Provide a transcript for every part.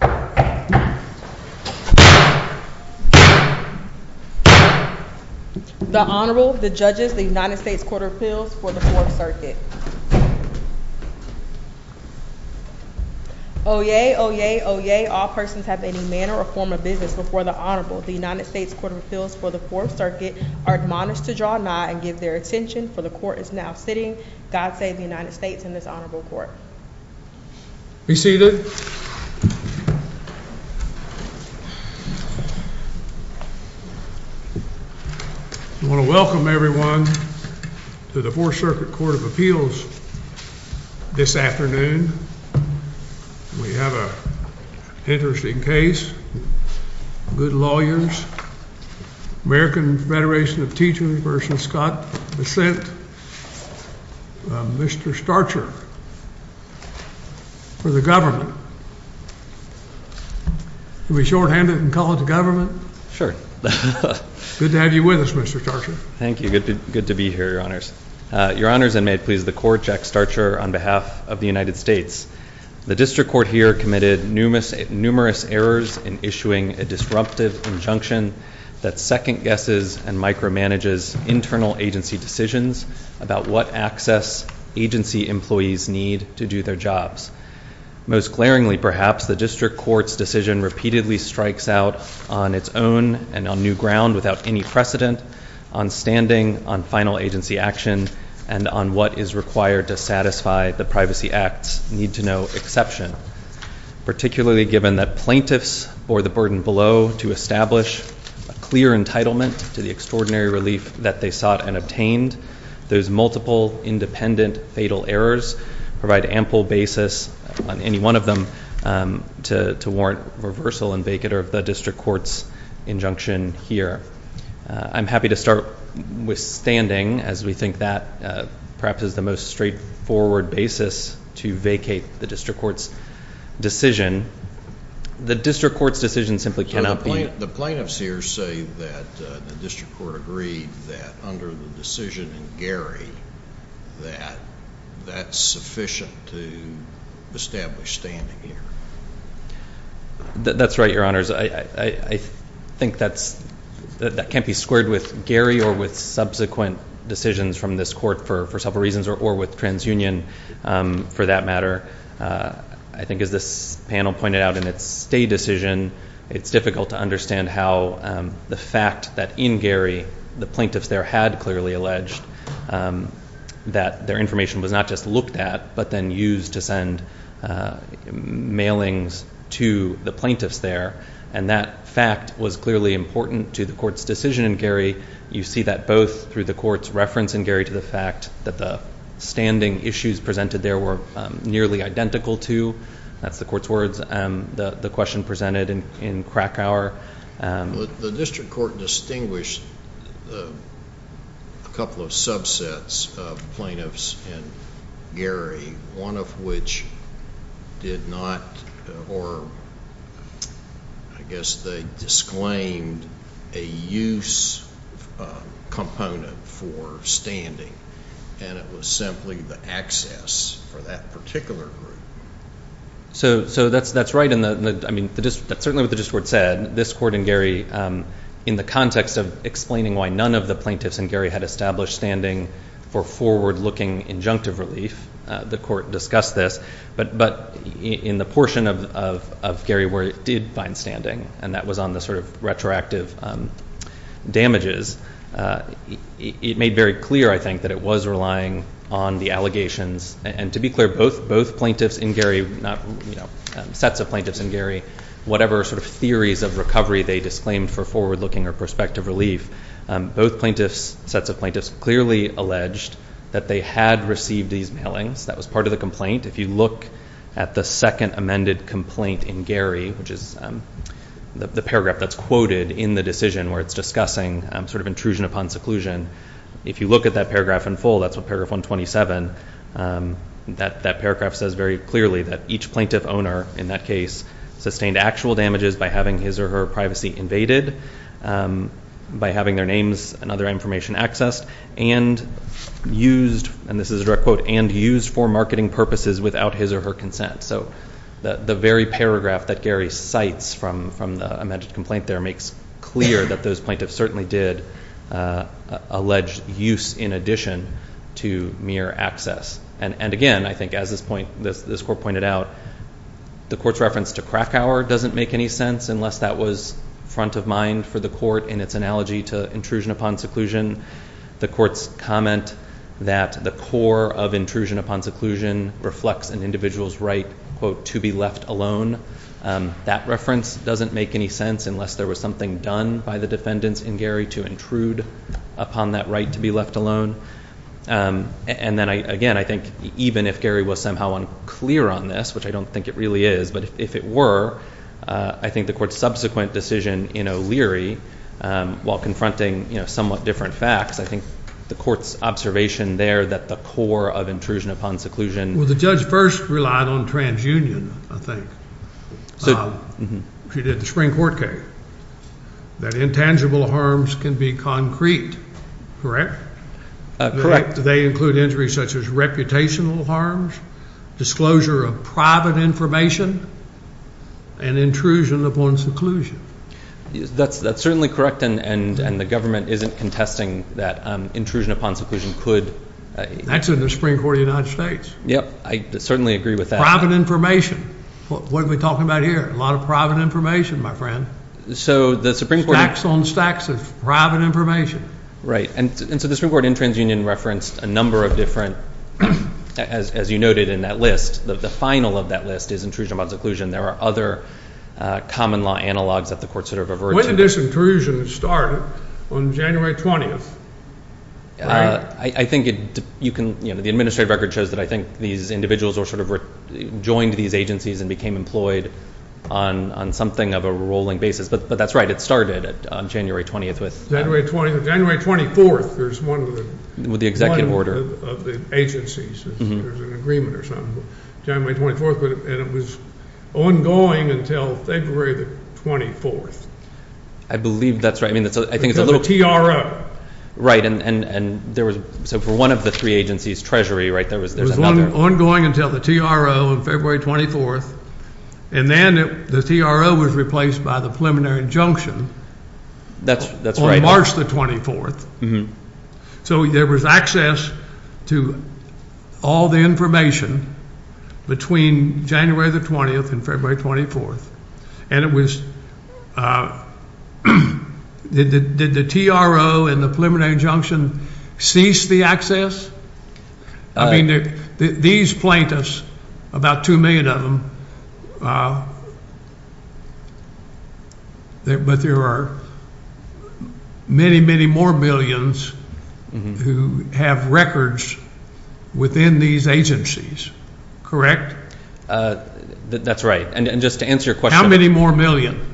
The Honorable, the Judges, the United States Court of Appeals for the Fourth Circuit. Oyez, oyez, oyez, all persons have any manner or form of business before the Honorable. The United States Court of Appeals for the Fourth Circuit are admonished to draw nigh and give their attention, for the Court is now sitting. God save the United States and this Honorable Court. Be seated. I want to welcome everyone to the Fourth Circuit Court of Appeals this afternoon. We have an interesting case, good lawyers, American Federation of Teachers v. Scott Bessent. Mr. Starcher for the government. Can we shorthand it and call it the government? Sure. Good to have you with us, Mr. Starcher. Thank you. Good to be here, Your Honors. Your Honors, and may it please the Court, Jack Starcher on behalf of the United States. The District Court here committed numerous errors in issuing a disruptive injunction that second guesses and micromanages internal agency decisions about what access agency employees need to do their jobs. Most glaringly, perhaps, the District Court's decision repeatedly strikes out on its own and on new ground without any precedent on standing on final agency action and on what is required to satisfy the Privacy Act's exception. Particularly given that plaintiffs bore the burden below to establish a clear entitlement to the extraordinary relief that they sought and obtained, those multiple independent fatal errors provide ample basis on any one of them to warrant reversal and vacater of the District Court's injunction here. I'm happy to start with standing as we think that perhaps is the most straightforward basis to vacate the District Court's decision. The District Court's decision simply cannot be... The plaintiffs here say that the District Court agreed that under the decision in Gary that that's sufficient to establish standing here. That's right, Your Honors. I think that can't be squared with Gary or with subsequent for that matter. I think as this panel pointed out in its stay decision, it's difficult to understand how the fact that in Gary the plaintiffs there had clearly alleged that their information was not just looked at but then used to send mailings to the plaintiffs there and that fact was clearly important to the Court's decision in Gary. You see that both through the nearly identical to, that's the Court's words, the question presented in Krakauer. The District Court distinguished a couple of subsets of plaintiffs in Gary, one of which did not or I guess they disclaimed a use component for standing and it was simply the access for that particular group. So that's right. I mean that's certainly what the District Court said. This Court in Gary in the context of explaining why none of the plaintiffs in Gary had established standing for forward-looking injunctive relief, the Court discussed this, but in the portion of Gary where it did find standing and that was on the sort of retroactive damages, it made very clear I think that it was relying on the allegations and to be clear both plaintiffs in Gary, sets of plaintiffs in Gary, whatever sort of theories of recovery they disclaimed for forward-looking or prospective relief, both plaintiffs, sets of plaintiffs, clearly alleged that they had received these mailings. That was part of the complaint. If you at the second amended complaint in Gary, which is the paragraph that's quoted in the decision where it's discussing sort of intrusion upon seclusion, if you look at that paragraph in full, that's what paragraph 127, that paragraph says very clearly that each plaintiff owner in that case sustained actual damages by having his or her privacy invaded, by having their names and other information accessed, and used, and this is a direct quote, and used for marketing purposes without his or her consent. So the very paragraph that Gary cites from the amended complaint there makes clear that those plaintiffs certainly did allege use in addition to mere access. And again, I think as this point, this Court pointed out, the Court's reference to Krakauer doesn't make any sense unless that was front of mind for the Court in its analogy to intrusion upon seclusion. The Court's comment that the core of intrusion upon seclusion reflects an individual's right, quote, to be left alone. That reference doesn't make any sense unless there was something done by the defendants in Gary to intrude upon that right to be left alone. And then again, I think even if Gary was somehow unclear on this, which I don't think it really is, but if it were, I think the Court's subsequent decision in O'Leary while confronting, you know, somewhat different facts, I think the Court's observation there that the core of intrusion upon seclusion... Well, the judge first relied on transunion, I think. She did the spring court case. That intangible harms can be concrete, correct? Correct. They include injuries such as reputational harms, disclosure of private information, and intrusion upon seclusion. That's certainly correct, and the government isn't contesting that intrusion upon seclusion could... That's in the Supreme Court of the United States. Yep, I certainly agree with that. Private information. What are we talking about here? A lot of private information, my friend. So the Supreme Court... Stacks on stacks of private information. Right, and so the Supreme Court in transunion referenced a number of different, as you noted in that list, the final of that list is intrusion upon seclusion. There are other common law analogs that the Court sort of averted. When did this intrusion start? On January 20th. I think it, you can, you know, the administrative record shows that I think these individuals were sort of joined these agencies and became employed on something of a rolling basis, but that's right, it started on January 20th with... January 20th, January 24th, there's one... With the executive order. Of the agencies, there's an agreement or something, January 24th, and it was ongoing until February the 24th. I believe that's right, I mean, I think it's a little... Because of the TRO. Right, and there was, so for one of the three agencies, Treasury, right, there was... There's one ongoing until the TRO on February 24th, and then the TRO was replaced by the So there was access to all the information between January the 20th and February 24th, and it was... Did the TRO and the preliminary injunction cease the access? I mean, these plaintiffs, about two million of them, but there are many, many more millions who have records within these agencies, correct? That's right, and just to answer your question... How many more million?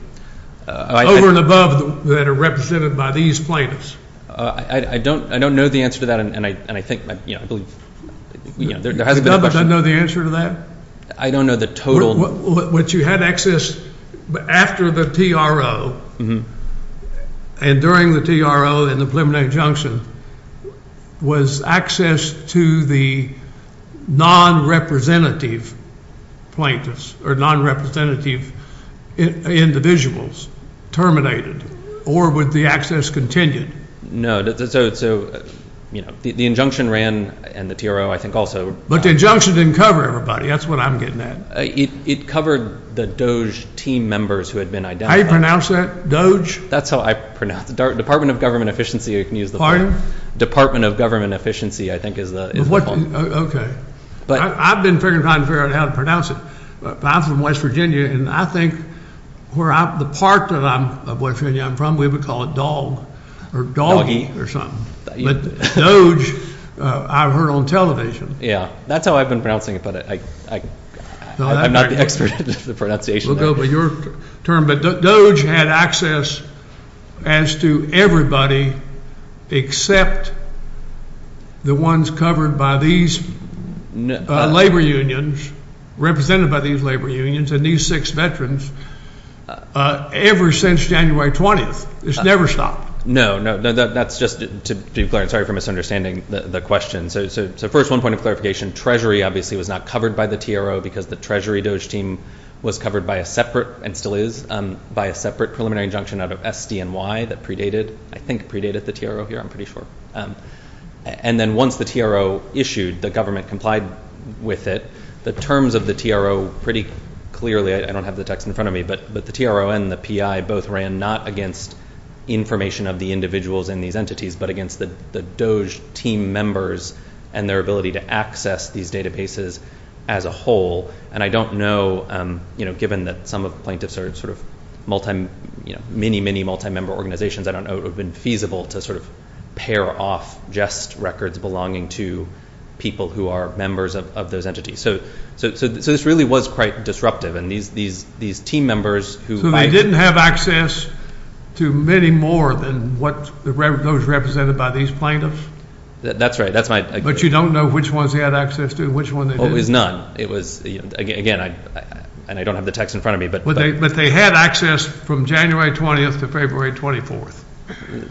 Over and above that are represented by these plaintiffs? I don't know the answer to that, and I think, you know, I believe there hasn't been a question... You don't know the answer to that? I don't know the total. What you had access after the TRO and during the TRO and the preliminary junction was access to the non-representative plaintiffs or non-representative individuals terminated or with the access continued? No, so, you know, the injunction ran and the TRO, I think, also... But the injunction didn't cover everybody. That's what I'm getting at. It covered the DOJ team members who had been identified. How do you pronounce that? DOJ? That's how I pronounce... Department of Government Efficiency, you can use the... Pardon? Department of Government Efficiency, I think, is the... Okay, but I've been figuring out how to pronounce it. I'm from West Virginia, and I think where I'm... The part that I'm... of West Virginia I'm from, we would call it dog or doggy or something. But DOJ, I've heard on television. Yeah, that's how I've been pronouncing it, but I'm not the expert in the pronunciation. We'll go by your term, but DOJ had access as to everybody except the ones covered by these labor unions, represented by these labor unions, and these six veterans, ever since January 20th. It's never stopped. No, no, that's just to be clear. Sorry for misunderstanding the question. So first, one point of clarification, Treasury, obviously, was not covered by the TRO because the Treasury DOJ team was covered by a separate, and still is, by a separate preliminary injunction out of SDNY that predated, I think, predated the TRO here, I'm pretty sure. And then once the TRO issued, the government complied with it. The terms of the TRO, pretty clearly, I don't have the text in front of me, but the TRO and the PI both ran not against information of the individuals in these entities, but against the DOJ team members and their ability to access these databases as a whole. And I don't know, given that some of the plaintiffs are sort of multi, many, many multi-member organizations, I don't know it would have been feasible to sort of pair off just records belonging to people who are members of those entities. So this really was quite disruptive, and these team members who- So they didn't have access to many more than what those represented by these plaintiffs? That's right, that's my- But you don't know which ones they had access to, which one they didn't? Well, it was none. It was, again, and I don't have the text in front of me, but- But they had access from January 20th to February 24th.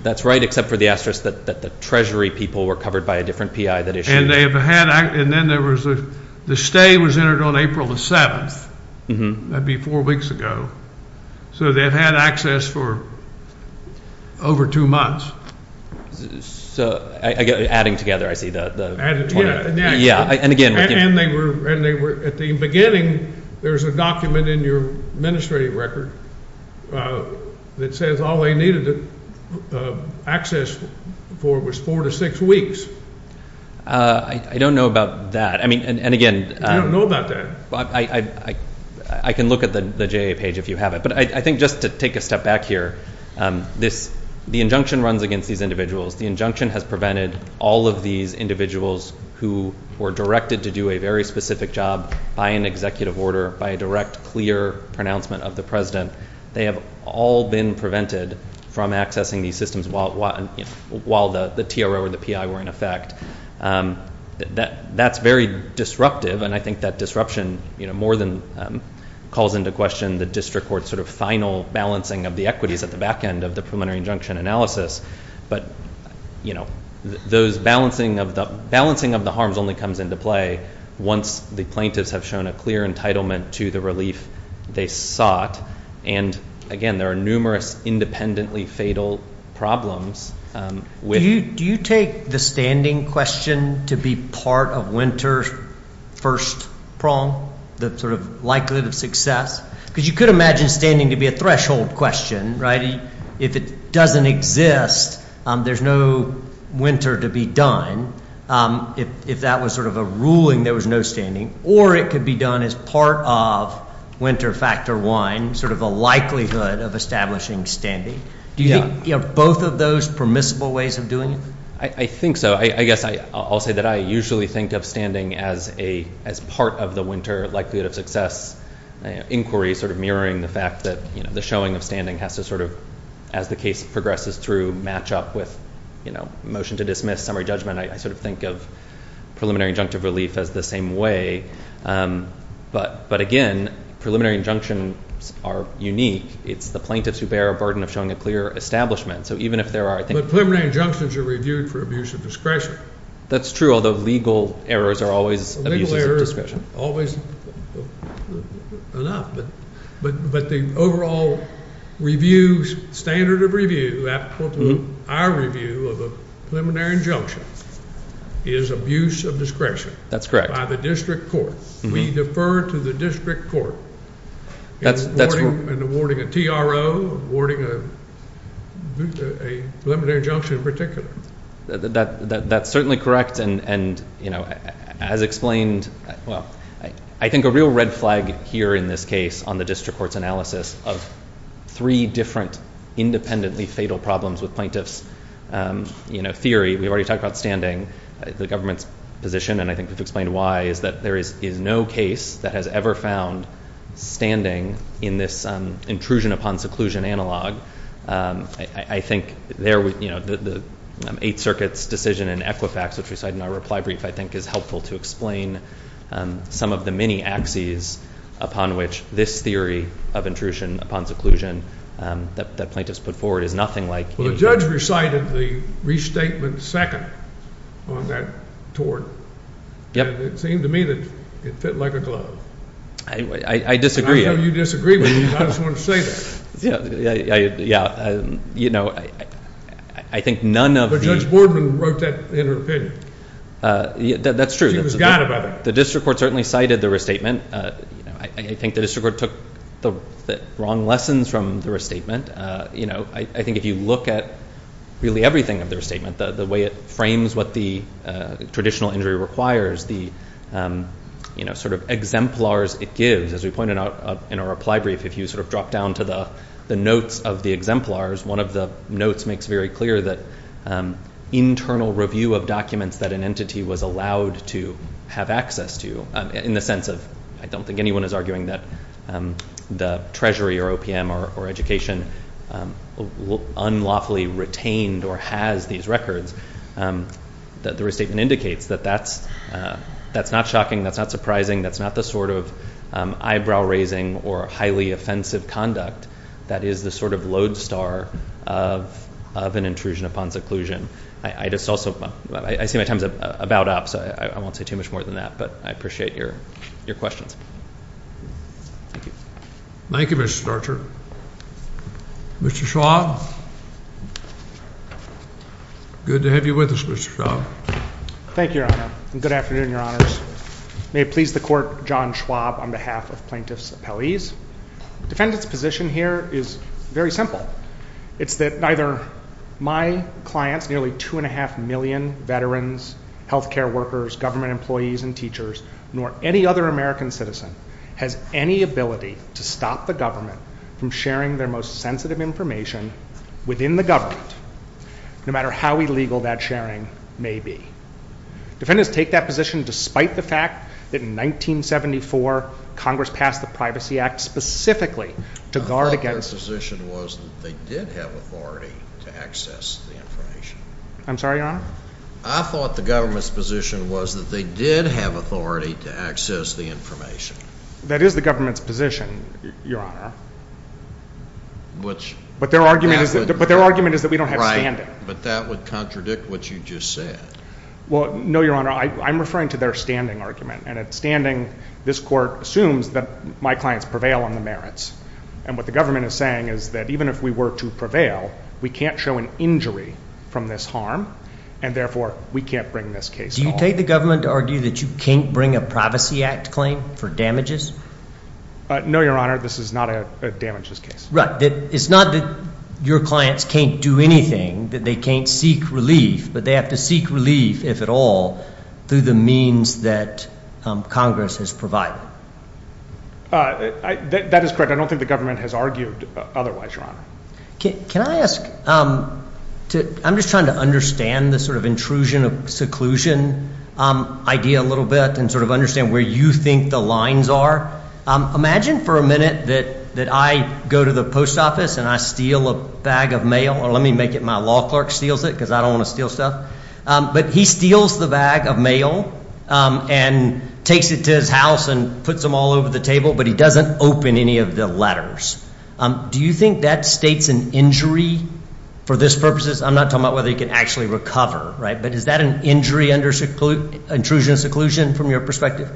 That's right, except for the asterisk that the Treasury people were covered by a different PI that issued- And they've had, and then there was a, the stay was entered on April the 7th. That'd be four weeks ago. So they've had access for over two months. So, adding together, I see, the- Added, yeah. Yeah, and again- And they were, at the beginning, there's a document in your administrative record that says all they needed to access for was four to six weeks. I don't know about that. I mean, and again- You don't know about that? I can look at the JA page if you have it, but I think just to take a step back here, the injunction runs against these individuals. The injunction has prevented all of these individuals who were directed to do a very specific job by an executive order, by a direct, clear pronouncement of the president. They have all been prevented from accessing these systems while the TRO or the PI were in effect. That's very disruptive, and I think that disruption more than calls into question the district court's sort of final balancing of the equities at the back end of the preliminary injunction analysis, but those balancing of the harms only comes into play once the plaintiffs have shown a clear entitlement to the relief they sought, and again, there are numerous independently fatal problems with- Do you take the standing question to be part of Winter's first prong, the sort of likelihood of success? Because you could imagine standing to be a threshold question, if it doesn't exist, there's no winter to be done. If that was sort of a ruling, there was no standing, or it could be done as part of winter factor one, sort of a likelihood of establishing standing. Do you think both of those permissible ways of doing it? I think so. I guess I'll say that I usually think of standing as part of the winter likelihood of success inquiry, sort of mirroring the fact that the showing of standing has to sort of, as the case progresses through, match up with motion to dismiss, summary judgment. I sort of think of preliminary injunctive relief as the same way, but again, preliminary injunctions are unique. It's the plaintiffs who bear a burden of showing a clear establishment, so even if there are- But preliminary injunctions are reviewed for abuse of discretion. That's true, although legal errors are always abuses of discretion. Legal errors are always enough, but the overall review, standard of review, applicable to our review of a preliminary injunction is abuse of discretion. That's correct. By the district court. We defer to the district court in awarding a TRO, awarding a preliminary injunction in particular. That's certainly correct, and as explained, well, I think a real red flag here in this case on the district court's analysis of three different independently fatal problems with plaintiffs' theory, we've already talked about standing, the government's position, and I think we've explained why, is that there is no case that has ever found standing in this intrusion upon seclusion analog. I think the Eighth Circuit's decision in Equifax, which we cite in our reply brief, I think is helpful to explain some of the many axes upon which this theory of intrusion upon seclusion that plaintiffs put forward is nothing like- Well, the judge recited the restatement second on that tort, and it seemed to me that it fit like a glove. I disagree. I know you disagree, but I just want to say that. Yeah, I think none of- But Judge Boardman wrote that in her opinion. That's true. She was god about it. The district court certainly cited the restatement. I think the district court took the wrong lessons from the restatement. I think if you look at really everything of the restatement, the way it frames what the traditional injury requires, the exemplars it gives, as we pointed out in our reply brief, if you drop down to the notes of the exemplars, one of the notes makes very clear that internal review of documents that an entity was allowed to have access to, in the sense of, I don't think anyone is arguing that the treasury or OPM or education unlawfully retained or has these records, that the restatement indicates that that's not shocking, that's not surprising, that's not the sort of eyebrow-raising or highly offensive conduct that is the sort of lodestar of an intrusion upon seclusion. I just also- I see my time's about up, so I won't say too much more than that, but I appreciate your questions. Thank you. Thank you, Mr. Starcher. Mr. Schwab? Good to have you with us, Mr. Schwab. Thank you, Your Honor, and good afternoon, Your Honors. May it please the Court, John Schwab, on behalf of Plaintiffs' Appellees. Defendants' position here is very simple. It's that neither my clients, nearly two and a half million veterans, health care workers, government employees, and teachers, nor any other American citizen has any ability to stop the government from sharing their most sensitive information with the public. Within the government, no matter how illegal that sharing may be. Defendants take that position despite the fact that in 1974, Congress passed the Privacy Act specifically to guard against- I thought their position was that they did have authority to access the information. I'm sorry, Your Honor? I thought the government's position was that they did have authority to access the information. That is the government's position, Your Honor. But their argument is that we don't have standing. But that would contradict what you just said. Well, no, Your Honor. I'm referring to their standing argument, and at standing, this Court assumes that my clients prevail on the merits, and what the government is saying is that even if we were to prevail, we can't show an injury from this harm, and therefore, we can't bring this case home. Do you take the government to argue that you can't bring a Privacy Act claim for damages? No, Your Honor. This is not a damages case. Right. It's not that your clients can't do anything, that they can't seek relief, but they have to seek relief, if at all, through the means that Congress has provided. That is correct. I don't think the government has argued otherwise, Your Honor. Can I ask- I'm just trying to understand the sort of intrusion seclusion idea a little bit, and sort of understand where you think the lines are. Imagine for a minute that I go to the post office, and I steal a bag of mail, or let me make it my law clerk steals it, because I don't want to steal stuff. But he steals the bag of mail, and takes it to his house, and puts them all over the table, but he doesn't open any of the letters. Do you think that states an injury for this purposes? I'm not talking about whether he can actually recover, right? But is that an injury under intrusion seclusion, from your perspective?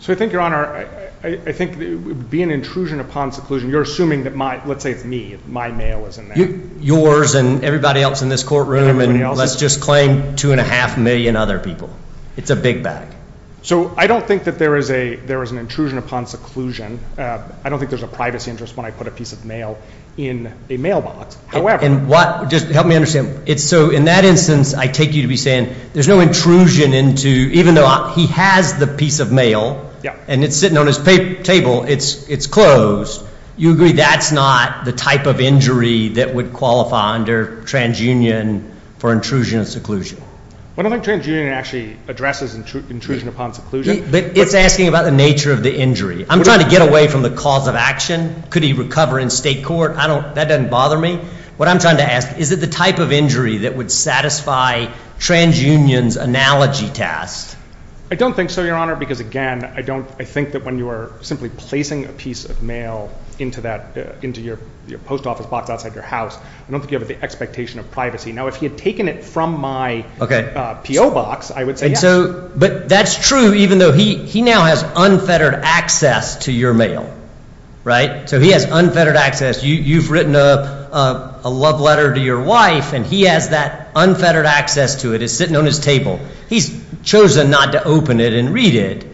So I think, Your Honor, I think it would be an intrusion upon seclusion. You're assuming that my- let's say it's me, my mail is in there. Yours, and everybody else in this courtroom, and let's just claim two and a half million other people. It's a big bag. So I don't think that there is an intrusion upon seclusion. I don't think there's a privacy interest when I put a piece of mail in a mailbox. However- And what- just help me understand. So in that instance, I take you to be saying there's no intrusion into- even though he has the piece of mail, and it's sitting on his table, it's closed. You agree that's not the type of injury that would qualify under transunion for intrusion and seclusion? I don't think transunion actually addresses intrusion upon seclusion. But it's asking about the nature of the injury. I'm trying to get away from the cause of action. Could he recover in state court? I don't- that doesn't bother me. What I'm trying to ask, is it the type of injury that would satisfy transunion's analogy test? I don't think so, Your Honor, because again, I don't- I think that when you are simply placing a piece of mail into that- into your post office box outside your house, I don't think you have the expectation of privacy. Now, if he had taken it from my P.O. box, I would say yes. But that's true even though he now has unfettered access to your mail, right? So he has unfettered access. You've written a love letter to your wife, and he has that unfettered access to it. It's sitting on his table. He's chosen not to open it and read it,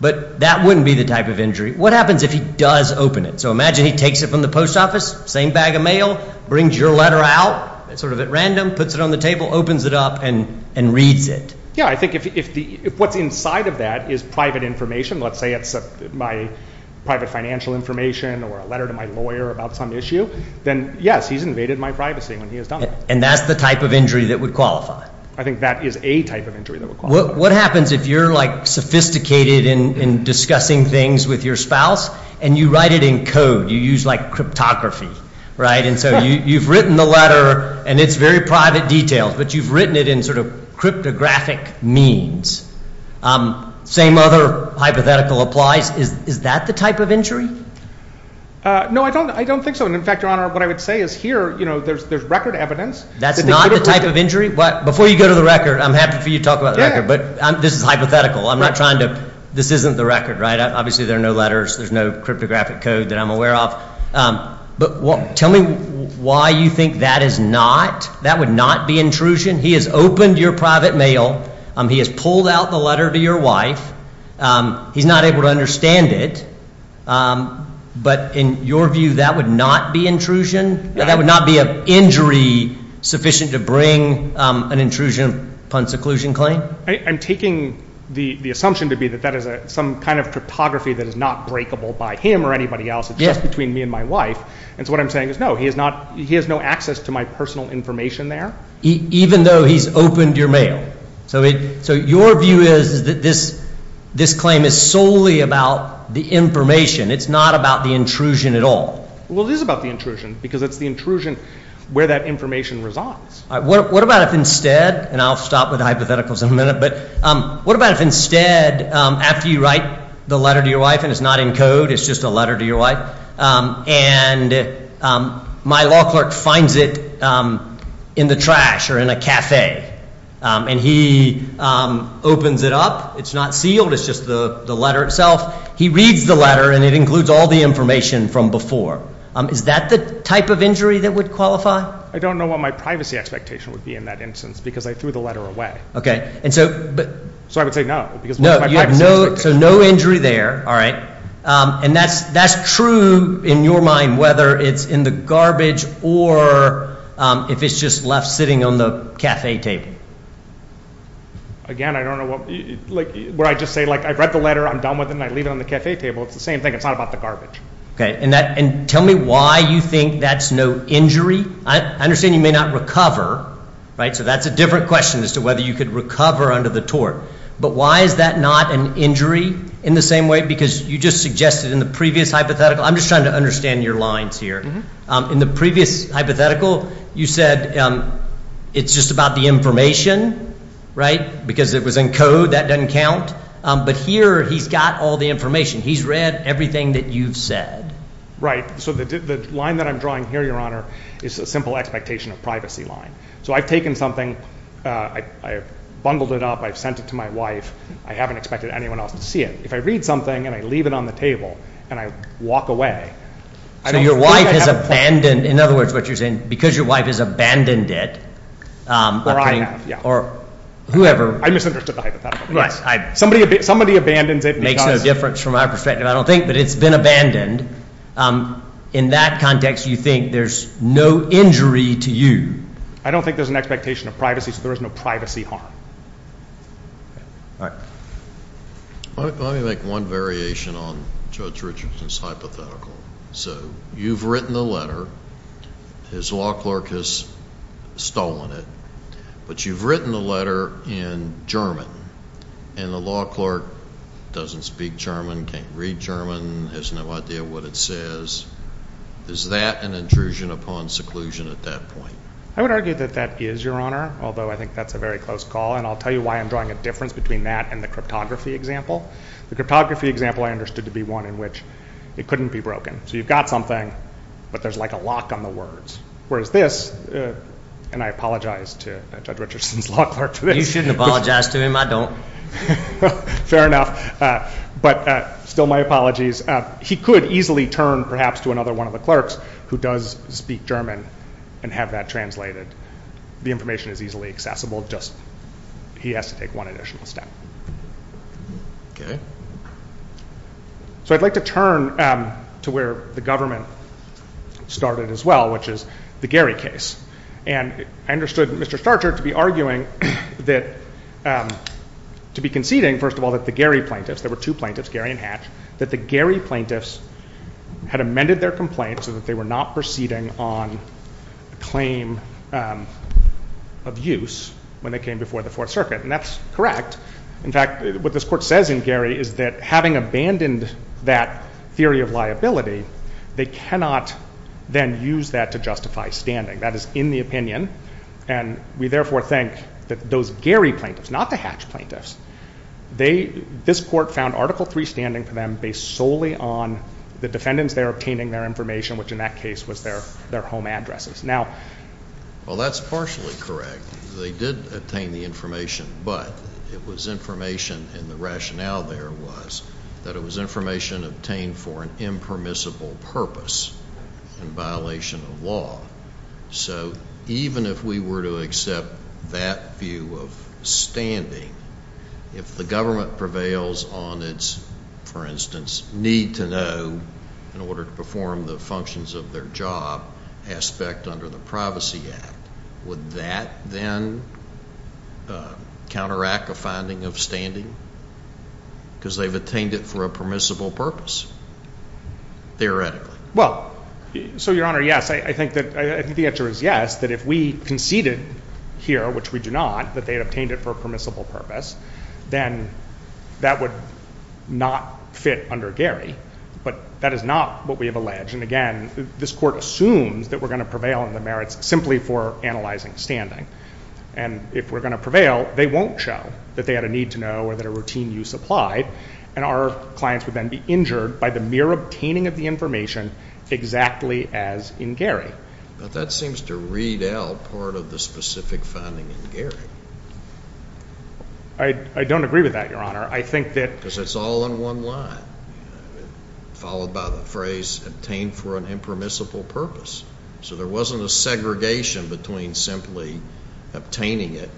but that wouldn't be the type of injury. What happens if he does open it? So imagine he takes it from the post office, same bag of mail, brings your letter out, sort of at random, puts it on the table, opens it up, and reads it. Yeah, I think if the- if what's inside of that is private information, let's say it's my private financial information or a letter to my lawyer about some issue, then yes, he's invaded my privacy when he has done that. And that's the type of injury that would qualify? I think that is a type of injury that would qualify. What happens if you're like sophisticated in discussing things with your spouse, and you write it in code? You use like cryptography, right? And so you've written the letter, and it's very private details, but you've written it in cryptographic means. Same other hypothetical applies. Is that the type of injury? No, I don't think so. And in fact, Your Honor, what I would say is here, there's record evidence. That's not the type of injury? Before you go to the record, I'm happy for you to talk about the record, but this is hypothetical. I'm not trying to- this isn't the record, right? Obviously, there are no letters. There's no cryptographic code that I'm aware of. But tell me why you think that is not- that would not be intrusion? He has opened your private mail. He has pulled out the letter to your wife. He's not able to understand it. But in your view, that would not be intrusion? That would not be an injury sufficient to bring an intrusion upon seclusion claim? I'm taking the assumption to be that that is some kind of cryptography that is not breakable by him or anybody else. It's just between me and my wife. And so what I'm saying is no, he has no access to my personal information there? Even though he's opened your mail? So your view is that this claim is solely about the information. It's not about the intrusion at all? Well, it is about the intrusion because it's the intrusion where that information results. What about if instead, and I'll stop with hypotheticals in a minute, but what about if instead, after you write the letter to your wife and it's not in code, it's just a letter to your wife, and my law clerk finds it in the trash or in a cafe, and he opens it up, it's not sealed, it's just the letter itself. He reads the letter and it includes all the information from before. Is that the type of injury that would qualify? I don't know what my privacy expectation would be in that instance because I threw the letter away. So I would say no. No, you have no, so no injury there. All right. And that's true in your mind, whether it's in the garbage or if it's just left sitting on the cafe table. Again, I don't know what, like, where I just say, like, I've read the letter, I'm done with it, and I leave it on the cafe table. It's the same thing. It's not about the garbage. Okay. And that, and tell me why you think that's no injury? I understand you may not recover, right? So that's a different question as to you could recover under the tort. But why is that not an injury in the same way? Because you just suggested in the previous hypothetical, I'm just trying to understand your lines here. In the previous hypothetical, you said it's just about the information, right? Because it was in code, that doesn't count. But here, he's got all the information. He's read everything that you've said. Right. So the line that I'm drawing here, Your Honor, is a simple expectation of privacy line. So I've taken something, I've bundled it up, I've sent it to my wife, I haven't expected anyone else to see it. If I read something, and I leave it on the table, and I walk away. So your wife has abandoned, in other words, what you're saying, because your wife has abandoned it. Or I have, yeah. Or whoever. I misunderstood the hypothetical. Right. Somebody, somebody abandons it. Makes no difference from my perspective, I don't think. But it's been abandoned. In that context, you think there's no injury to you? I don't think there's an expectation of privacy, so there is no privacy harm. All right. Let me make one variation on Judge Richardson's hypothetical. So you've written the letter, his law clerk has stolen it, but you've written the letter in German, and the law clerk doesn't speak German, can't read German, has no idea what it says. Is that an intrusion upon seclusion at that point? I would argue that that is, Your Honor, although I think that's a very close call, and I'll tell you why I'm drawing a difference between that and the cryptography example. The cryptography example I understood to be one in which it couldn't be broken. So you've got something, but there's like a lock on the words. Whereas this, and I apologize to Judge Richardson, but still my apologies, he could easily turn perhaps to another one of the clerks who does speak German and have that translated. The information is easily accessible, just he has to take one additional step. So I'd like to turn to where the government started as well, which is the Gary case. And I understood Mr. Starcher to be arguing that, to be conceding, first of all, that the Gary plaintiffs, there were two plaintiffs, Gary and Hatch, that the Gary plaintiffs had amended their complaint so that they were not proceeding on a claim of use when they came before the Fourth Circuit. And that's correct. In fact, what this court says in Gary is that having abandoned that theory of liability, they cannot then use that to justify standing. That is in the opinion, and we therefore think that those Gary plaintiffs, not the Hatch plaintiffs, they, this court found Article III standing for them based solely on the defendants there obtaining their information, which in that case was their home addresses. Now. Well, that's partially correct. They did obtain the information, but it was information, and the rationale there was that it was information obtained for an impermissible purpose in violation of law. So even if we were to accept that view of standing, if the government prevails on its, for instance, need to know in order to perform the functions of their job aspect under the Privacy Act, would that then counteract a finding of standing? Because they've obtained it for a permissible purpose, theoretically. Well, so Your Honor, yes. I think that the answer is yes, that if we conceded here, which we do not, that they obtained it for a permissible purpose, then that would not fit under Gary. But that is not what we have alleged. And again, this court assumes that we're going to prevail on the merits simply for analyzing standing. And if we're going to prevail, they won't show that they had a need to know or that a routine use applied, and our clients would then be injured by the mere obtaining of the information exactly as in Gary. But that seems to read out part of the specific finding in Gary. I don't agree with that, Your Honor. I think that... Because it's all in one line, followed by the phrase obtained for an impermissible purpose. So there wasn't a segregation between simply obtaining it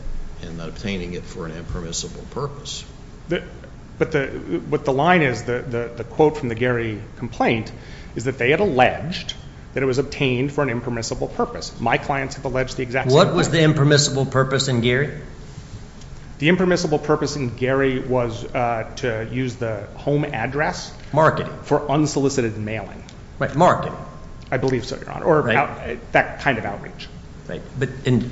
and obtaining it for an impermissible purpose. But the line is, the quote from the Gary complaint, is that they had alleged that it was obtained for an impermissible purpose. My clients have alleged the exact same thing. What was the impermissible purpose in Gary? The impermissible purpose in Gary was to use the home address... Marketing. ...for unsolicited mailing. Right. Marketing. I believe so, Your Honor, or that kind of outreach. Right. But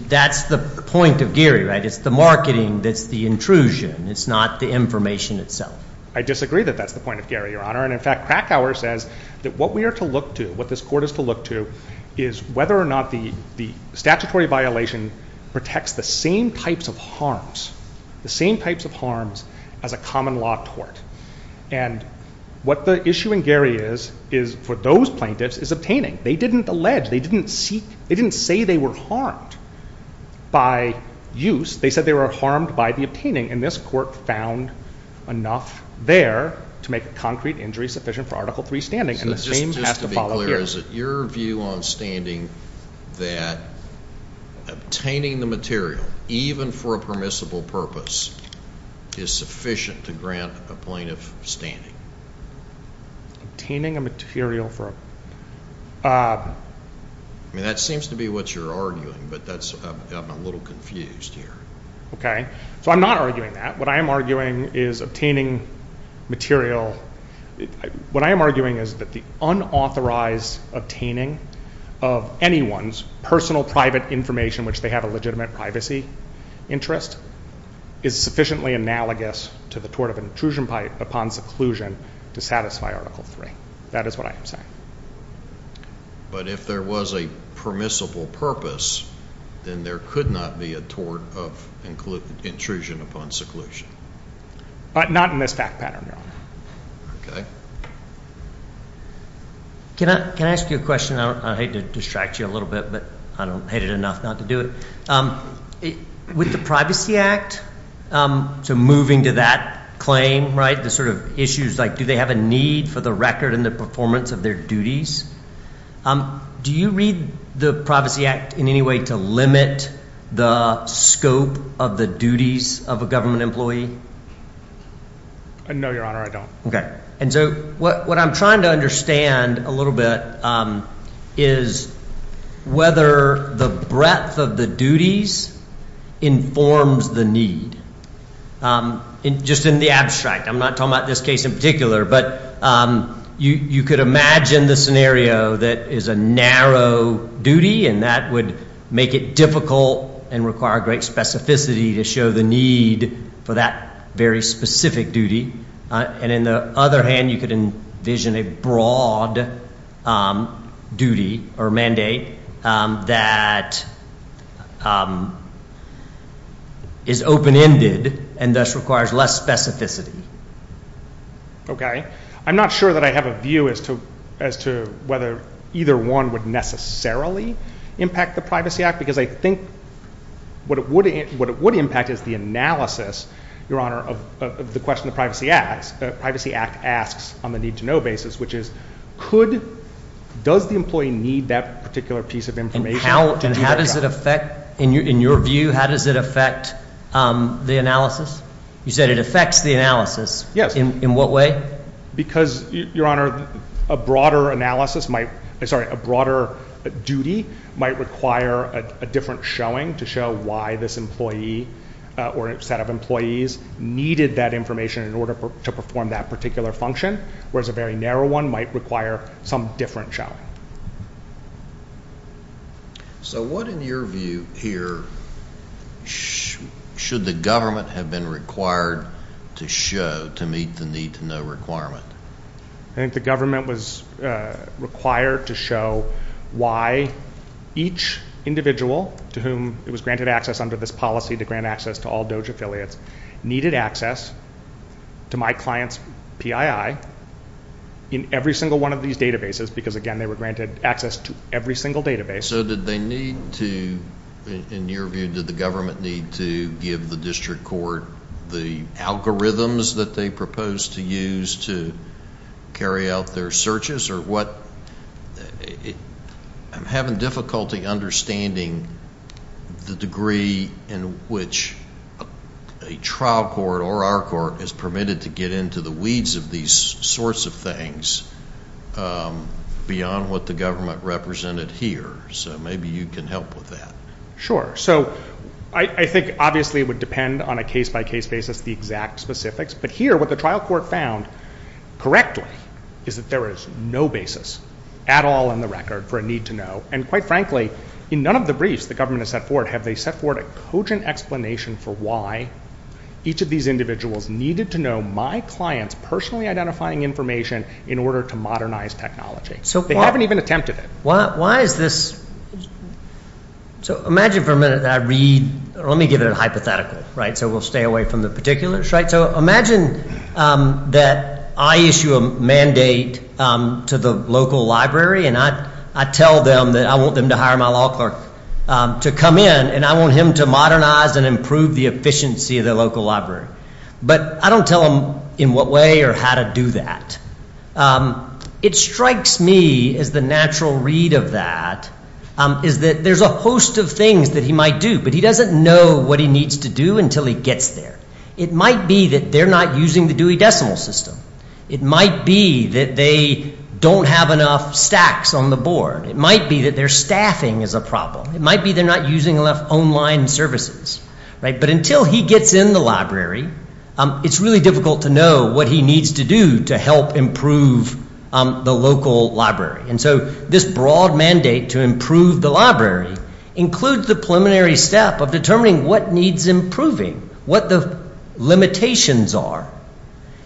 that's the point of Gary, right? It's the marketing that's the intrusion. It's not the information itself. I disagree that that's the point of Gary, Your Honor. And in fact, Krakauer says that what we are to look to, what this court is to look to, is whether or not the statutory violation protects the same types of harms, the same types of harms as a common law court. And what the issue in Gary is, is for those plaintiffs, is obtaining. They didn't allege. They didn't seek. They didn't say they were harmed by use. They said they were harmed by the obtaining. And this court found enough there to make a concrete injury sufficient for Article III standing. And the same has to follow here. So just to be clear, is it your view on standing that obtaining the material, even for a permissible purpose, is sufficient to grant a plaintiff standing? Obtaining a material for a... I mean, that seems to be what you're arguing, but I'm a little confused here. Okay. So I'm not arguing that. What I am arguing is obtaining material... What I am arguing is that the unauthorized obtaining of anyone's personal private information, which they have a legitimate privacy interest, is sufficiently analogous to the tort of an intrusion upon seclusion to satisfy Article III. That is what I am saying. But if there was a permissible purpose, then there could not be a tort of intrusion upon seclusion. But not in this fact pattern, no. Okay. Can I ask you a question? I hate to distract you a little bit, but I hate it enough not to do it. With the Privacy Act, so moving to that claim, right, the sort of issues like do they have a need for the record and the performance of their duties? Do you read the Privacy Act in any way to limit the scope of the duties of a government employee? No, Your Honor, I don't. Okay. And so what I'm trying to understand a little bit is whether the breadth of the duties informs the need. Just in the abstract, I'm not talking about this case in particular, but you could imagine the scenario that is a narrow duty and that would make it difficult and require great specificity to show the need for that very specific duty. And in the other hand, you could envision a broad duty or mandate that is open-ended and thus requires less specificity. Okay. I'm not sure that I have a view as to whether either one would necessarily impact the Privacy Act, because I think what it would impact is the analysis, Your Honor, of the question the Privacy Act asks on the need-to-know basis, which is does the employee need that particular piece of information? And how does it affect, in your view, how does it affect the analysis? You said it affects the analysis. Yes. In what way? Because, Your Honor, a broader duty might require a different showing to show why this employee or set of employees needed that information in order to perform that particular function, whereas a very narrow one might require some different showing. So what, in your view here, should the government have been required to show to meet the need-to-know requirement? I think the government was required to show why each individual to whom it was granted access under this policy to grant access to all DOJ affiliates needed access to my client's PII in every single one of these databases, because, again, they were granted access to every single database. So did they need to, in your view, did the government need to give the district court the algorithms that they proposed to use to carry out their searches or what? I'm having difficulty understanding the degree in which a trial court or our court is permitted to get into the weeds of these sorts of things beyond what the government represented here. So maybe you can help with that. Sure. So I think, obviously, it would depend on a case-by-case basis the exact specifics. But here, what the trial court found correctly is that there is no basis at all in the record for a need-to-know. And, quite frankly, in none of the briefs the government has set forward have they set forward a cogent explanation for why each of these individuals needed to know my client's personally identifying information in order to modernize technology. They haven't even attempted it. So imagine for a minute that I read, or let me give it a hypothetical, so we'll stay away from the particulars. So imagine that I issue a mandate to the local library, and I tell them that I want them to hire my law clerk to come in, and I want him to modernize and improve the efficiency of the local library. But I don't tell them in what way or how to do that. It strikes me as the natural read of that is that there's a host of things that he might do, but he doesn't know what he needs to do until he gets there. It might be that they're not using the Dewey Decimal System. It might be that they don't have enough stacks on the board. It might be that their staffing is a problem. It might be they're not using enough online services. But until he gets in the library, it's really difficult to know what he needs to do to help improve the local library. And so this broad mandate to improve the library includes the preliminary step of determining what needs improving, what the limitations are.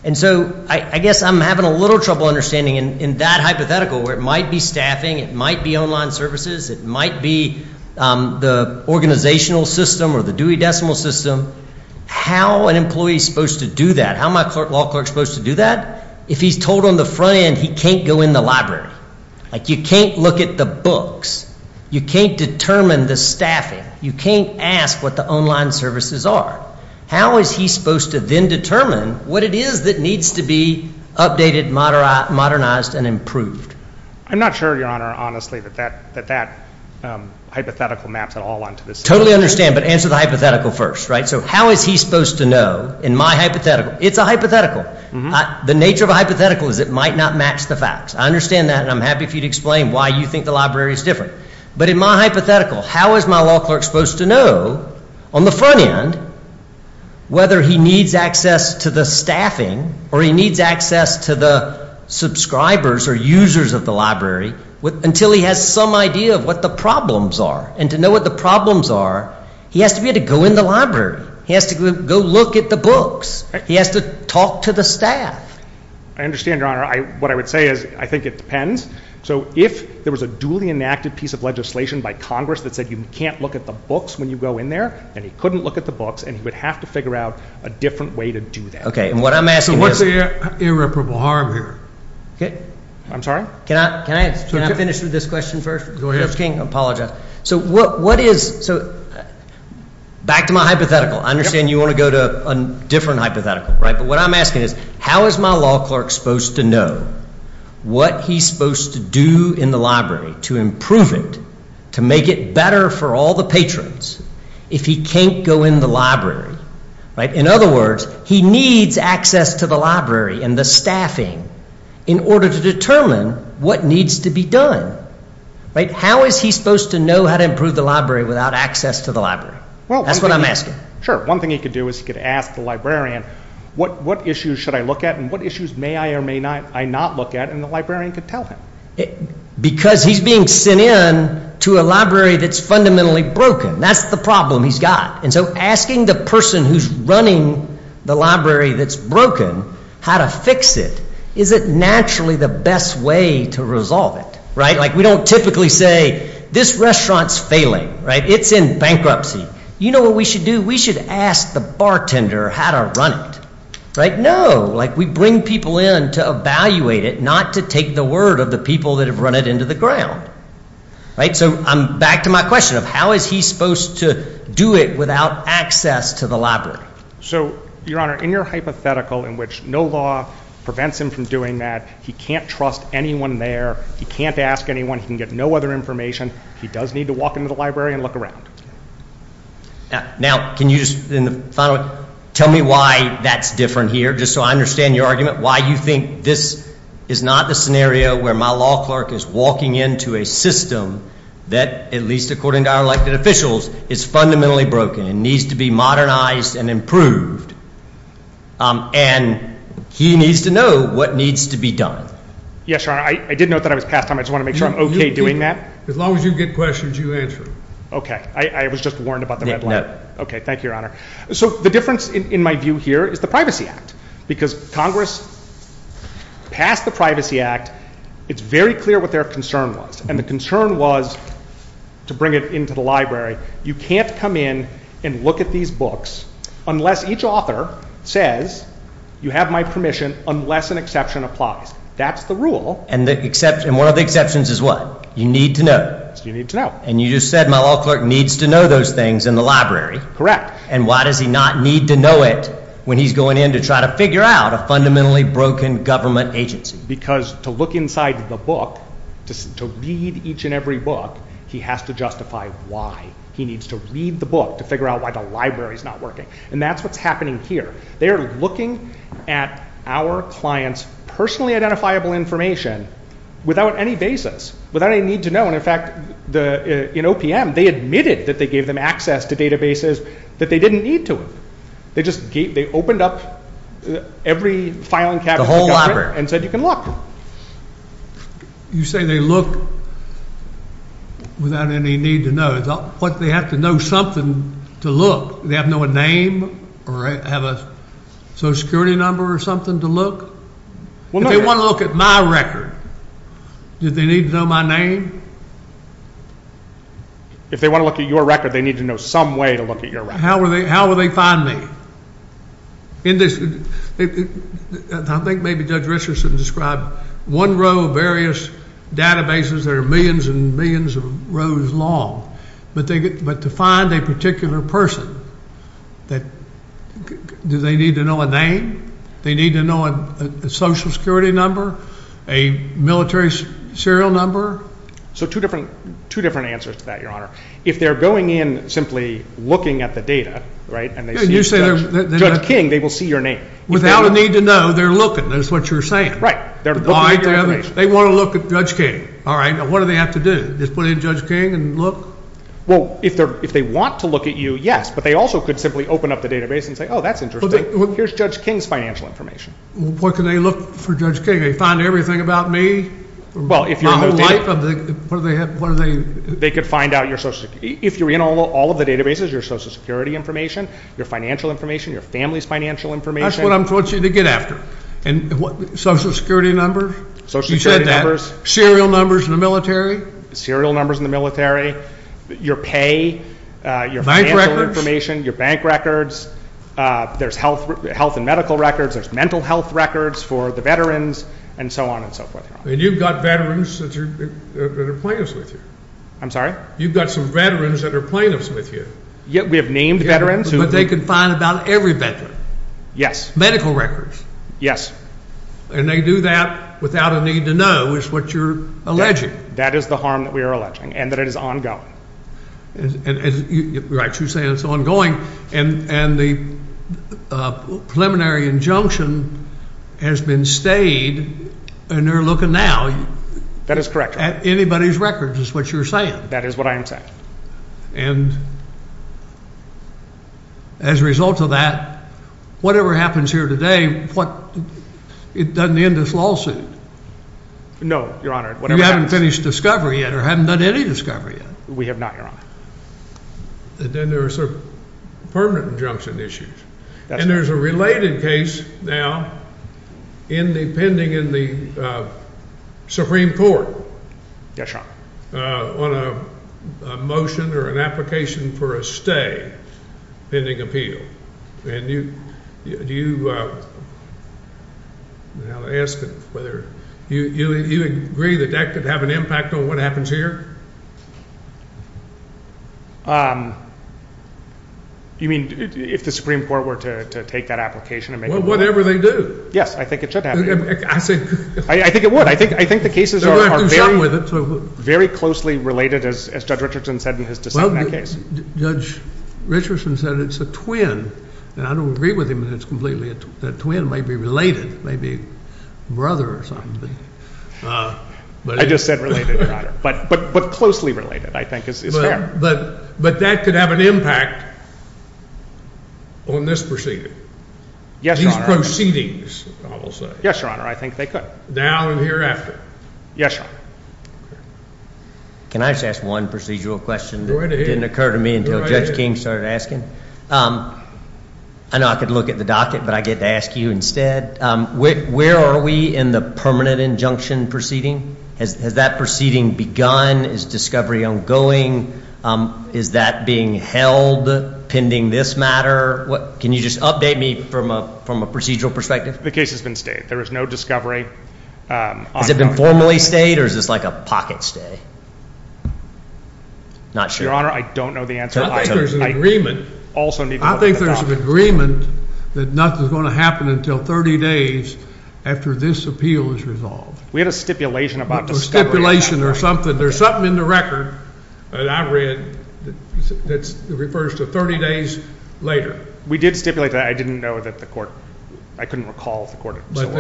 And so I guess I'm having a little trouble understanding in that hypothetical where it might be staffing, it might be online services, it might be the organizational system or the Dewey Decimal System. How an employee is supposed to do that? How am I, law clerk, supposed to do that if he's told on the front end he can't go in the library? Like you can't look at the books. You can't determine the staffing. You can't ask what the online services are. How is he supposed to then determine what it is that needs to be updated, modernized, and improved? I'm not sure, Your Honor, honestly, that that hypothetical maps at all onto this. Totally understand, but answer the hypothetical first, right? So how is he supposed to know in my hypothetical? It's a hypothetical. The nature of a hypothetical is it might not match the facts. I understand that and I'm happy for you to explain why you think the library is different. But in my hypothetical, how is my law clerk supposed to know on the front end whether he needs access to the staffing or he needs access to the subscribers or users of the library until he has some idea of what the problems are? And to know what the problems are, he has to be able to go in the library. He has to go look at the books. He has to talk to the staff. I understand, Your Honor. What I would say is I think it depends. So if there was a duly enacted piece of legislation by Congress that said you can't look at the books when you go in there, then he couldn't look at the books and he would have to figure out a different way to do that. Okay, and what I'm asking is... So what's the irreparable harm here? Okay, I'm sorry? Can I finish with this question first? Go ahead. I apologize. So what is... Back to my hypothetical. I understand you want to go to a different hypothetical, right? But what I'm asking is how is my law clerk supposed to know what he's supposed to do in the library to improve it, to make it better for all the patrons if he can't go in the library, right? In other words, he needs access to the library and the staffing in order to determine what needs to be done, right? How is he supposed to know how to improve the library without access to the library? Well, that's what I'm asking. Sure, one thing he could do is he could ask the librarian what issues should I look at and what issues may I or may not I not look at and the librarian could tell him. Because he's being sent in to a library that's fundamentally broken. That's the problem he's got. And so asking the person who's running the library that's broken how to fix it is it naturally the best way to resolve it, right? Like we don't typically say this restaurant's failing, right? It's in bankruptcy. You know what we should do? We should ask the bartender how to run it, right? No, like we bring people in to evaluate it, not to take the word of the people that have run it into the ground, right? So I'm back to my question of how is he supposed to do it without access to the library. So, your honor, in your hypothetical in which no law prevents him from doing that, he can't trust anyone there, he can't ask anyone, he can get no other information, he does need to walk into the that's different here. Just so I understand your argument, why you think this is not the scenario where my law clerk is walking into a system that, at least according to our elected officials, is fundamentally broken and needs to be modernized and improved. And he needs to know what needs to be done. Yes, your honor, I did note that I was past time. I just want to make sure I'm okay doing that. As long as you get questions, you answer. Okay, I was just warned about the red light. Okay, thank you, your honor. So the difference in my view here is the Privacy Act. Because Congress passed the Privacy Act, it's very clear what their concern was. And the concern was, to bring it into the library, you can't come in and look at these books unless each author says, you have my permission, unless an exception applies. That's the rule. And one of the exceptions is what? You need to know. And you just said my law clerk needs to know those things in the library. Correct. And why does he not need to know it when he's going in to try to figure out a fundamentally broken government agency? Because to look inside the book, to read each and every book, he has to justify why. He needs to read the book to figure out why the library's not working. And that's what's happening here. They're looking at our client's personally identifiable information without any basis, without any need to know. And in fact, the, in OPM, they admitted that they gave them access to databases that they didn't need to. They just gave, they opened up every filing cabinet, the whole library, and said you can look. You say they look without any need to know, what they have to know something to look. They have no name or have a social security number or something to look. If they want to look at my record, do they need to know my name? If they want to look at your record, they need to know some way to look at your record. How will they find me? I think maybe Judge Richardson described one row of various databases that are millions and millions of rows long. But to find a particular person, that, do they need to know a name? They need to know a social security number, a military serial number? So two different answers to that, Your Honor. If they're going in simply looking at the data, right, and they see Judge King, they will see your name. Without a need to know, they're looking. That's what you're saying. Right. They want to look at Judge King. All right. What do they have to do? Just put in Judge King and look? Well, if they want to look at you, yes. But they also could simply open up the database and say, oh, that's interesting. Here's Judge King's financial information. What can they look for Judge King? They find everything about me? Well, if you're in the life of the, what do they have? They could find out your social, if you're in all of the databases, your social security information, your financial information, your family's financial information. That's what I want you to get after. And social security numbers? Social security numbers. Serial numbers in the military? Serial numbers in the military. Your pay, your financial information. Bank records? Your bank records. There's health and medical records. There's mental health records for the veterans and so on and so forth. And you've got veterans that are plaintiffs with you. I'm sorry? You've got some veterans that are plaintiffs with you. Yeah, we have named veterans. But they can find about every veteran? Yes. Medical records? Yes. And they do that without a need to know is what you're alleging? That is the harm that we on going. Right, you're saying it's ongoing. And the preliminary injunction has been stayed and they're looking now. That is correct. At anybody's records is what you're saying? That is what I am saying. And as a result of that, whatever happens here today, what, it doesn't end this lawsuit? No, Your Honor. You haven't finished discovery yet or haven't done any discovery yet? We have not, Your Honor. Then there's a permanent injunction issue. And there's a related case now in the pending in the Supreme Court. Yes, Your Honor. On a motion or an application for a stay pending appeal. And you, do you, I'm asking whether you agree that that could have an impact on what happens here? You mean if the Supreme Court were to take that application? Whatever they do. Yes, I think it should happen. I think it would. I think the cases are very closely related, as Judge Richardson said in his dissent in that case. Judge Richardson said it's a twin. And I don't agree with him that it's completely a twin. That twin may be related, may be a brother or something. I just said related, Your Honor. But closely related, I think is fair. But that could have an impact on this proceeding? Yes, Your Honor. These proceedings, I will say. Yes, Your Honor. I think they could. Now and hereafter? Yes, Your Honor. Can I just ask one procedural question that didn't occur to me until Judge King started asking? I know I could look at the docket, but I get to ask you instead. Where are we in the permanent injunction proceeding? Has that proceeding begun? Is discovery ongoing? Is that being held pending this matter? Can you just update me from a procedural perspective? The case has been stayed. There is no discovery. Has it been formally stayed or is this like a pocket stay? I'm not sure, Your Honor. I don't know the answer. I think there's an agreement that nothing's going to happen until 30 days after this appeal is resolved. We had a stipulation about the stipulation or something. There's something in the record that I read that refers to 30 days later. We did stipulate that. I didn't know that the court, I couldn't recall the court. That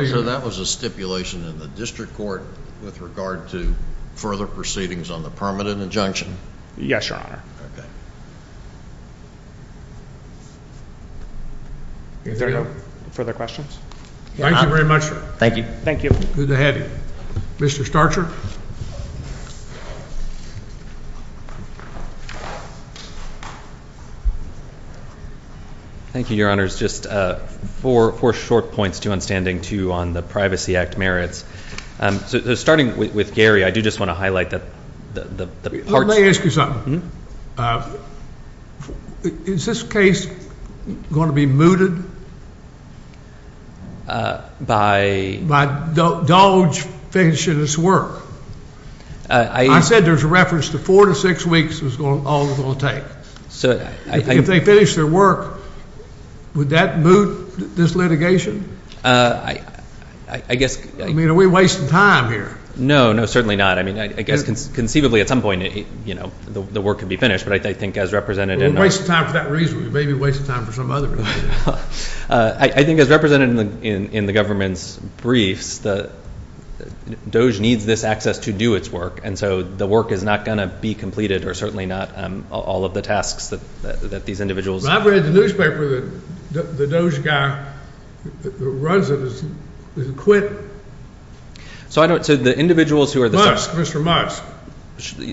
was a stipulation in the district court with regard to further proceedings on the permanent injunction? Yes, Your Honor. Is there no further questions? Thank you very much, sir. Thank you. Thank you. Good to have you. Mr. Starcher. Thank you, Your Honor. Just four short points, two on standing, two on the Privacy Act merits. So starting with Gary, I do just want to highlight that the parts... Let me ask you something. Is this case going to be mooted? By? By Doge finishing his work? I said there's a reference to four to six weeks is all it's going to take. If they finish their work, would that moot this litigation? I mean, are we wasting time here? No, no, certainly not. I mean, I guess conceivably at some point, you know, the work could be finished, but I think as representative... We're wasting time for that reason. We may be wasting time for some other reason. I think as representative in the government's briefs, Doge needs this access to do its work. And so the work is not going to be completed, or certainly not all of the tasks that these individuals... I've read the newspaper that the Doge guy who runs it has quit. So I don't... So the individuals who are... Musk, Mr. Musk.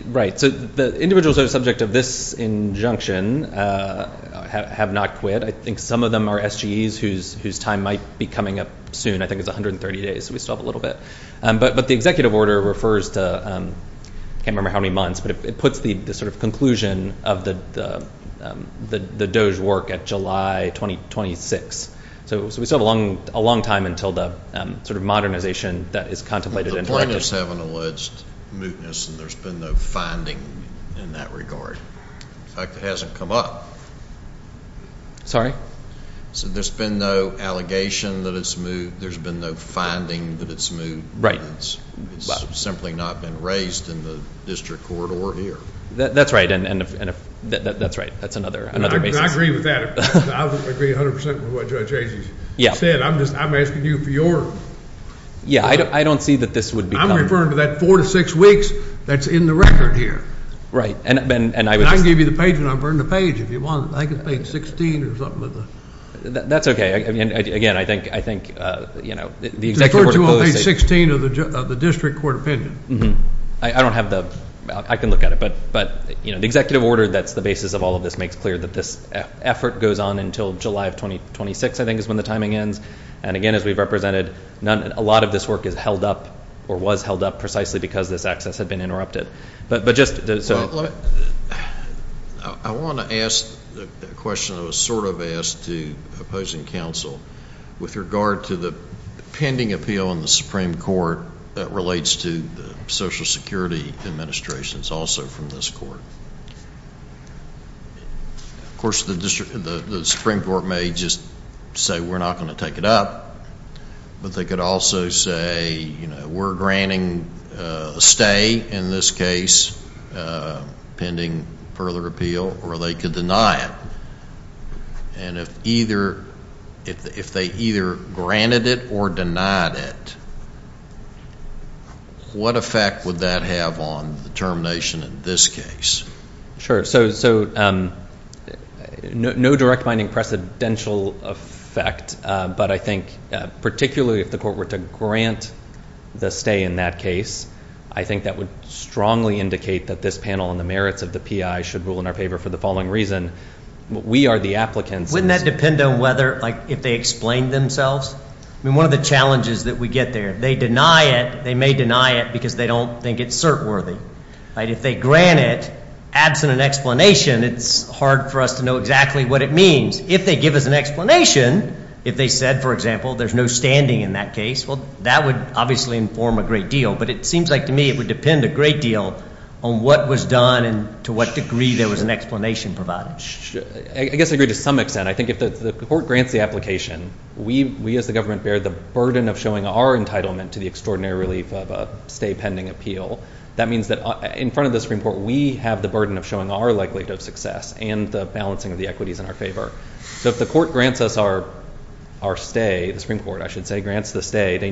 Right. So the individuals who are subject of this injunction have not quit. I think some of our SGEs whose time might be coming up soon, I think it's 130 days, so we still have a little bit. But the executive order refers to, I can't remember how many months, but it puts the sort of conclusion of the Doge work at July 2026. So we still have a long time until the sort of modernization that is contemplated... The plaintiffs haven't alleged mootness, and there's been no finding in that regard. In fact, it hasn't come up. Sorry? So there's been no allegation that it's moot. There's been no finding that it's moot. It's simply not been raised in the district court or here. That's right. And that's right. That's another basis. I agree with that. I would agree 100% with what Judge Aziz said. I'm asking you for your... Yeah, I don't see that this would be... I'm referring to that four to six weeks that's in the record here. Right. And I would... And I'll burn the page if you want. I think it's page 16 or something like that. That's okay. Again, I think the executive order... The first two on page 16 of the district court opinion. I don't have the... I can look at it. But the executive order that's the basis of all of this makes clear that this effort goes on until July of 2026, I think is when the timing ends. And again, as we've represented, a lot of this work is held up or was held up precisely because this access had been interrupted. But just... I want to ask a question that was sort of asked to opposing counsel with regard to the pending appeal in the Supreme Court that relates to the social security administrations also from this court. Of course, the Supreme Court may just say, we're not going to take it up. But they could also say, we're granting a stay in this case, pending further appeal, or they could deny it. And if they either granted it or denied it, what effect would that have on the termination in this case? Sure. So no direct binding precedential effect. But I think particularly if the court were to grant the stay in that case, I think that would strongly indicate that this panel and the merits of the PI should rule in our favor for the following reason. We are the applicants. Wouldn't that depend on whether... If they explained themselves? I mean, one of the challenges that we get there, they deny it, they may deny it because they don't think it's cert worthy. If they grant it, absent an explanation, it's hard for us to know exactly what it means. If they give us an explanation, if they said, for example, there's no standing in that case, well, that would obviously inform a great deal. But it seems like to me, it would depend a great deal on what was done and to what degree there was an explanation provided. I guess I agree to some extent. I think if the court grants the application, we as the government bear the burden of showing our entitlement to the extraordinary relief of a pending appeal. That means that in front of the Supreme Court, we have the burden of showing our likelihood of success and the balancing of the equities in our favor. So if the court grants us our stay, the Supreme Court, I should say, grants the stay, they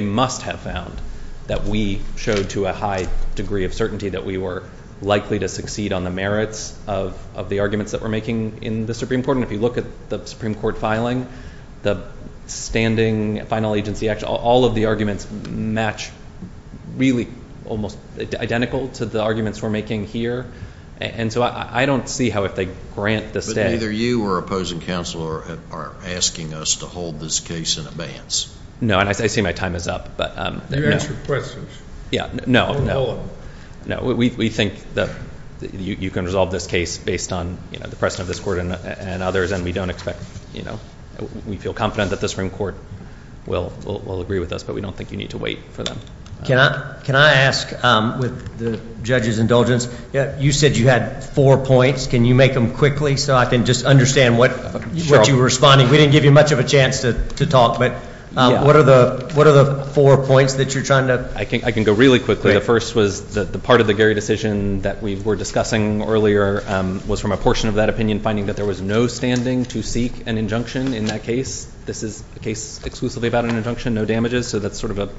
must have found that we showed to a high degree of certainty that we were likely to succeed on the merits of the arguments that we're making in the Supreme Court. And if you look at the Supreme Court filing, the standing final agency action, all of the arguments match really almost identical to the arguments we're making here. And so I don't see how if they grant the stay... But neither you or opposing counsel are asking us to hold this case in advance. No, and I see my time is up, but... You answered questions. Yeah, no, no, no. We think that you can resolve this case based on the precedent of this court and others, and we don't expect, you know, we feel confident that the Supreme Court will agree with us, but we don't think you need to wait for them. Can I ask, with the judge's indulgence, you said you had four points. Can you make them quickly so I can just understand what you were responding? We didn't give you much of a chance to talk, but what are the four points that you're trying to... I can go really quickly. The first was the part of the Gary decision that we were discussing earlier was from a portion of that opinion, finding that there was no standing to seek an injunction in that case. This is a case exclusively about an injunction, no damages, so that's sort of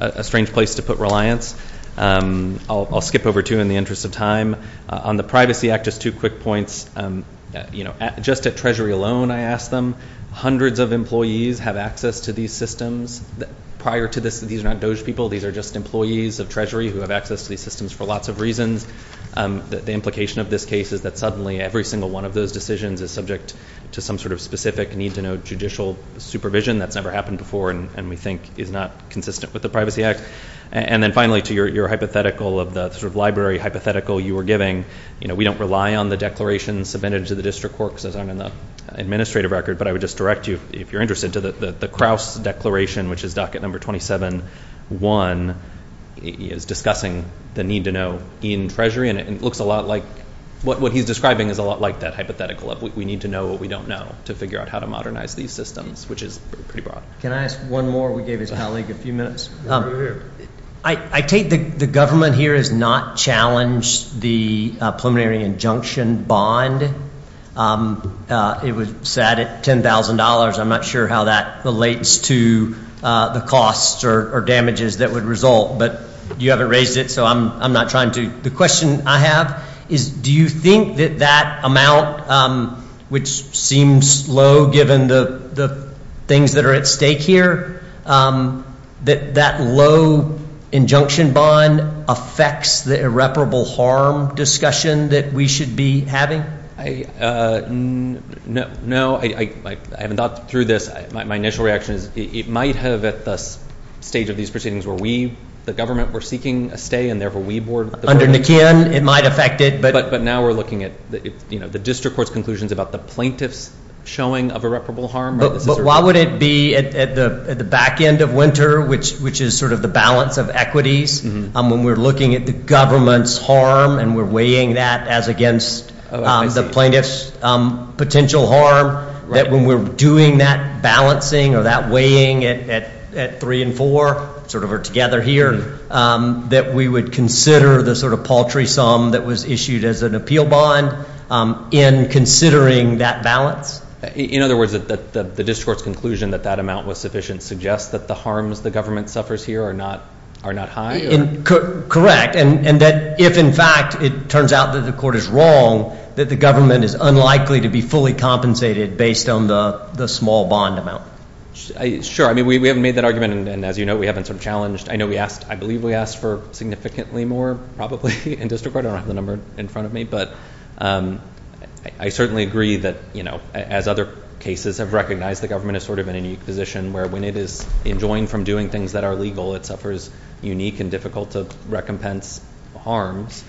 a strange place to put reliance. I'll skip over two in the interest of time. On the Privacy Act, just two quick points. You know, just at Treasury alone, I asked them, hundreds of employees have access to these systems. Prior to this, these are not DOJ people. These are just employees of Treasury who have access to these systems for lots of reasons. The implication of this case is that suddenly every single one of those decisions is subject to some sort of specific need-to-know judicial supervision that's never happened before and we think is not consistent with the Privacy Act. And then finally, to your hypothetical of the sort of library hypothetical you were giving, you know, we don't rely on the declarations submitted to the district court because those aren't in the administrative record, but I would just direct you, if you're interested, to the Krause declaration, which at number 27.1 is discussing the need-to-know in Treasury and it looks a lot like what he's describing is a lot like that hypothetical of we need to know what we don't know to figure out how to modernize these systems, which is pretty broad. Can I ask one more? We gave his colleague a few minutes. I take the government here has not challenged the preliminary injunction bond. It was set at $10,000. I'm not sure how that relates to the costs or damages that would result, but you haven't raised it, so I'm not trying to. The question I have is do you think that that amount, which seems low given the things that are at stake here, that that low injunction bond affects the irreparable harm discussion that we should be having? No, I haven't thought through this. My initial reaction is it might have at this stage of these proceedings where we, the government, were seeking a stay and therefore we boarded. Under McKeon, it might affect it. But now we're looking at, you know, the district court's conclusions about the plaintiff's showing of irreparable harm. Why would it be at the back end of winter, which is sort of the balance of equities, when we're looking at the government's harm and we're weighing that as against the plaintiff's potential harm, that when we're doing that balancing or that weighing at three and four, sort of together here, that we would consider the sort of paltry sum that was issued as an conclusion that that amount was sufficient suggests that the harms the government suffers here are not high? Correct. And that if, in fact, it turns out that the court is wrong, that the government is unlikely to be fully compensated based on the small bond amount. Sure. I mean, we haven't made that argument. And as you know, we haven't sort of challenged. I know we asked, I believe we asked for significantly more probably in district court. I don't have the number in front of me. But I certainly agree that, you know, as other cases have recognized, the government is sort of in a position where when it is enjoined from doing things that are legal, it suffers unique and difficult to recompense harms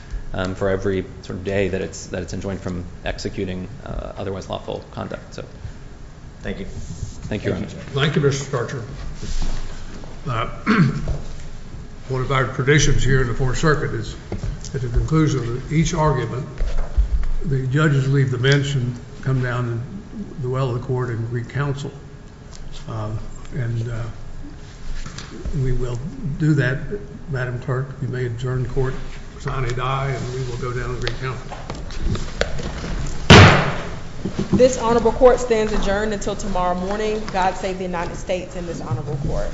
for every sort of day that it's that it's enjoined from executing otherwise lawful conduct. So thank you. Thank you. Thank you, Mr. Starcher. One of our traditions here in the Fourth Circuit is at the conclusion of each argument, the judges leave the bench and come down the well of the court and recounsel. And we will do that. Madam Turk, you may adjourn court, sign a die and we will go down and recount. This honorable court stands adjourned until tomorrow morning. God save the United States and this honorable court.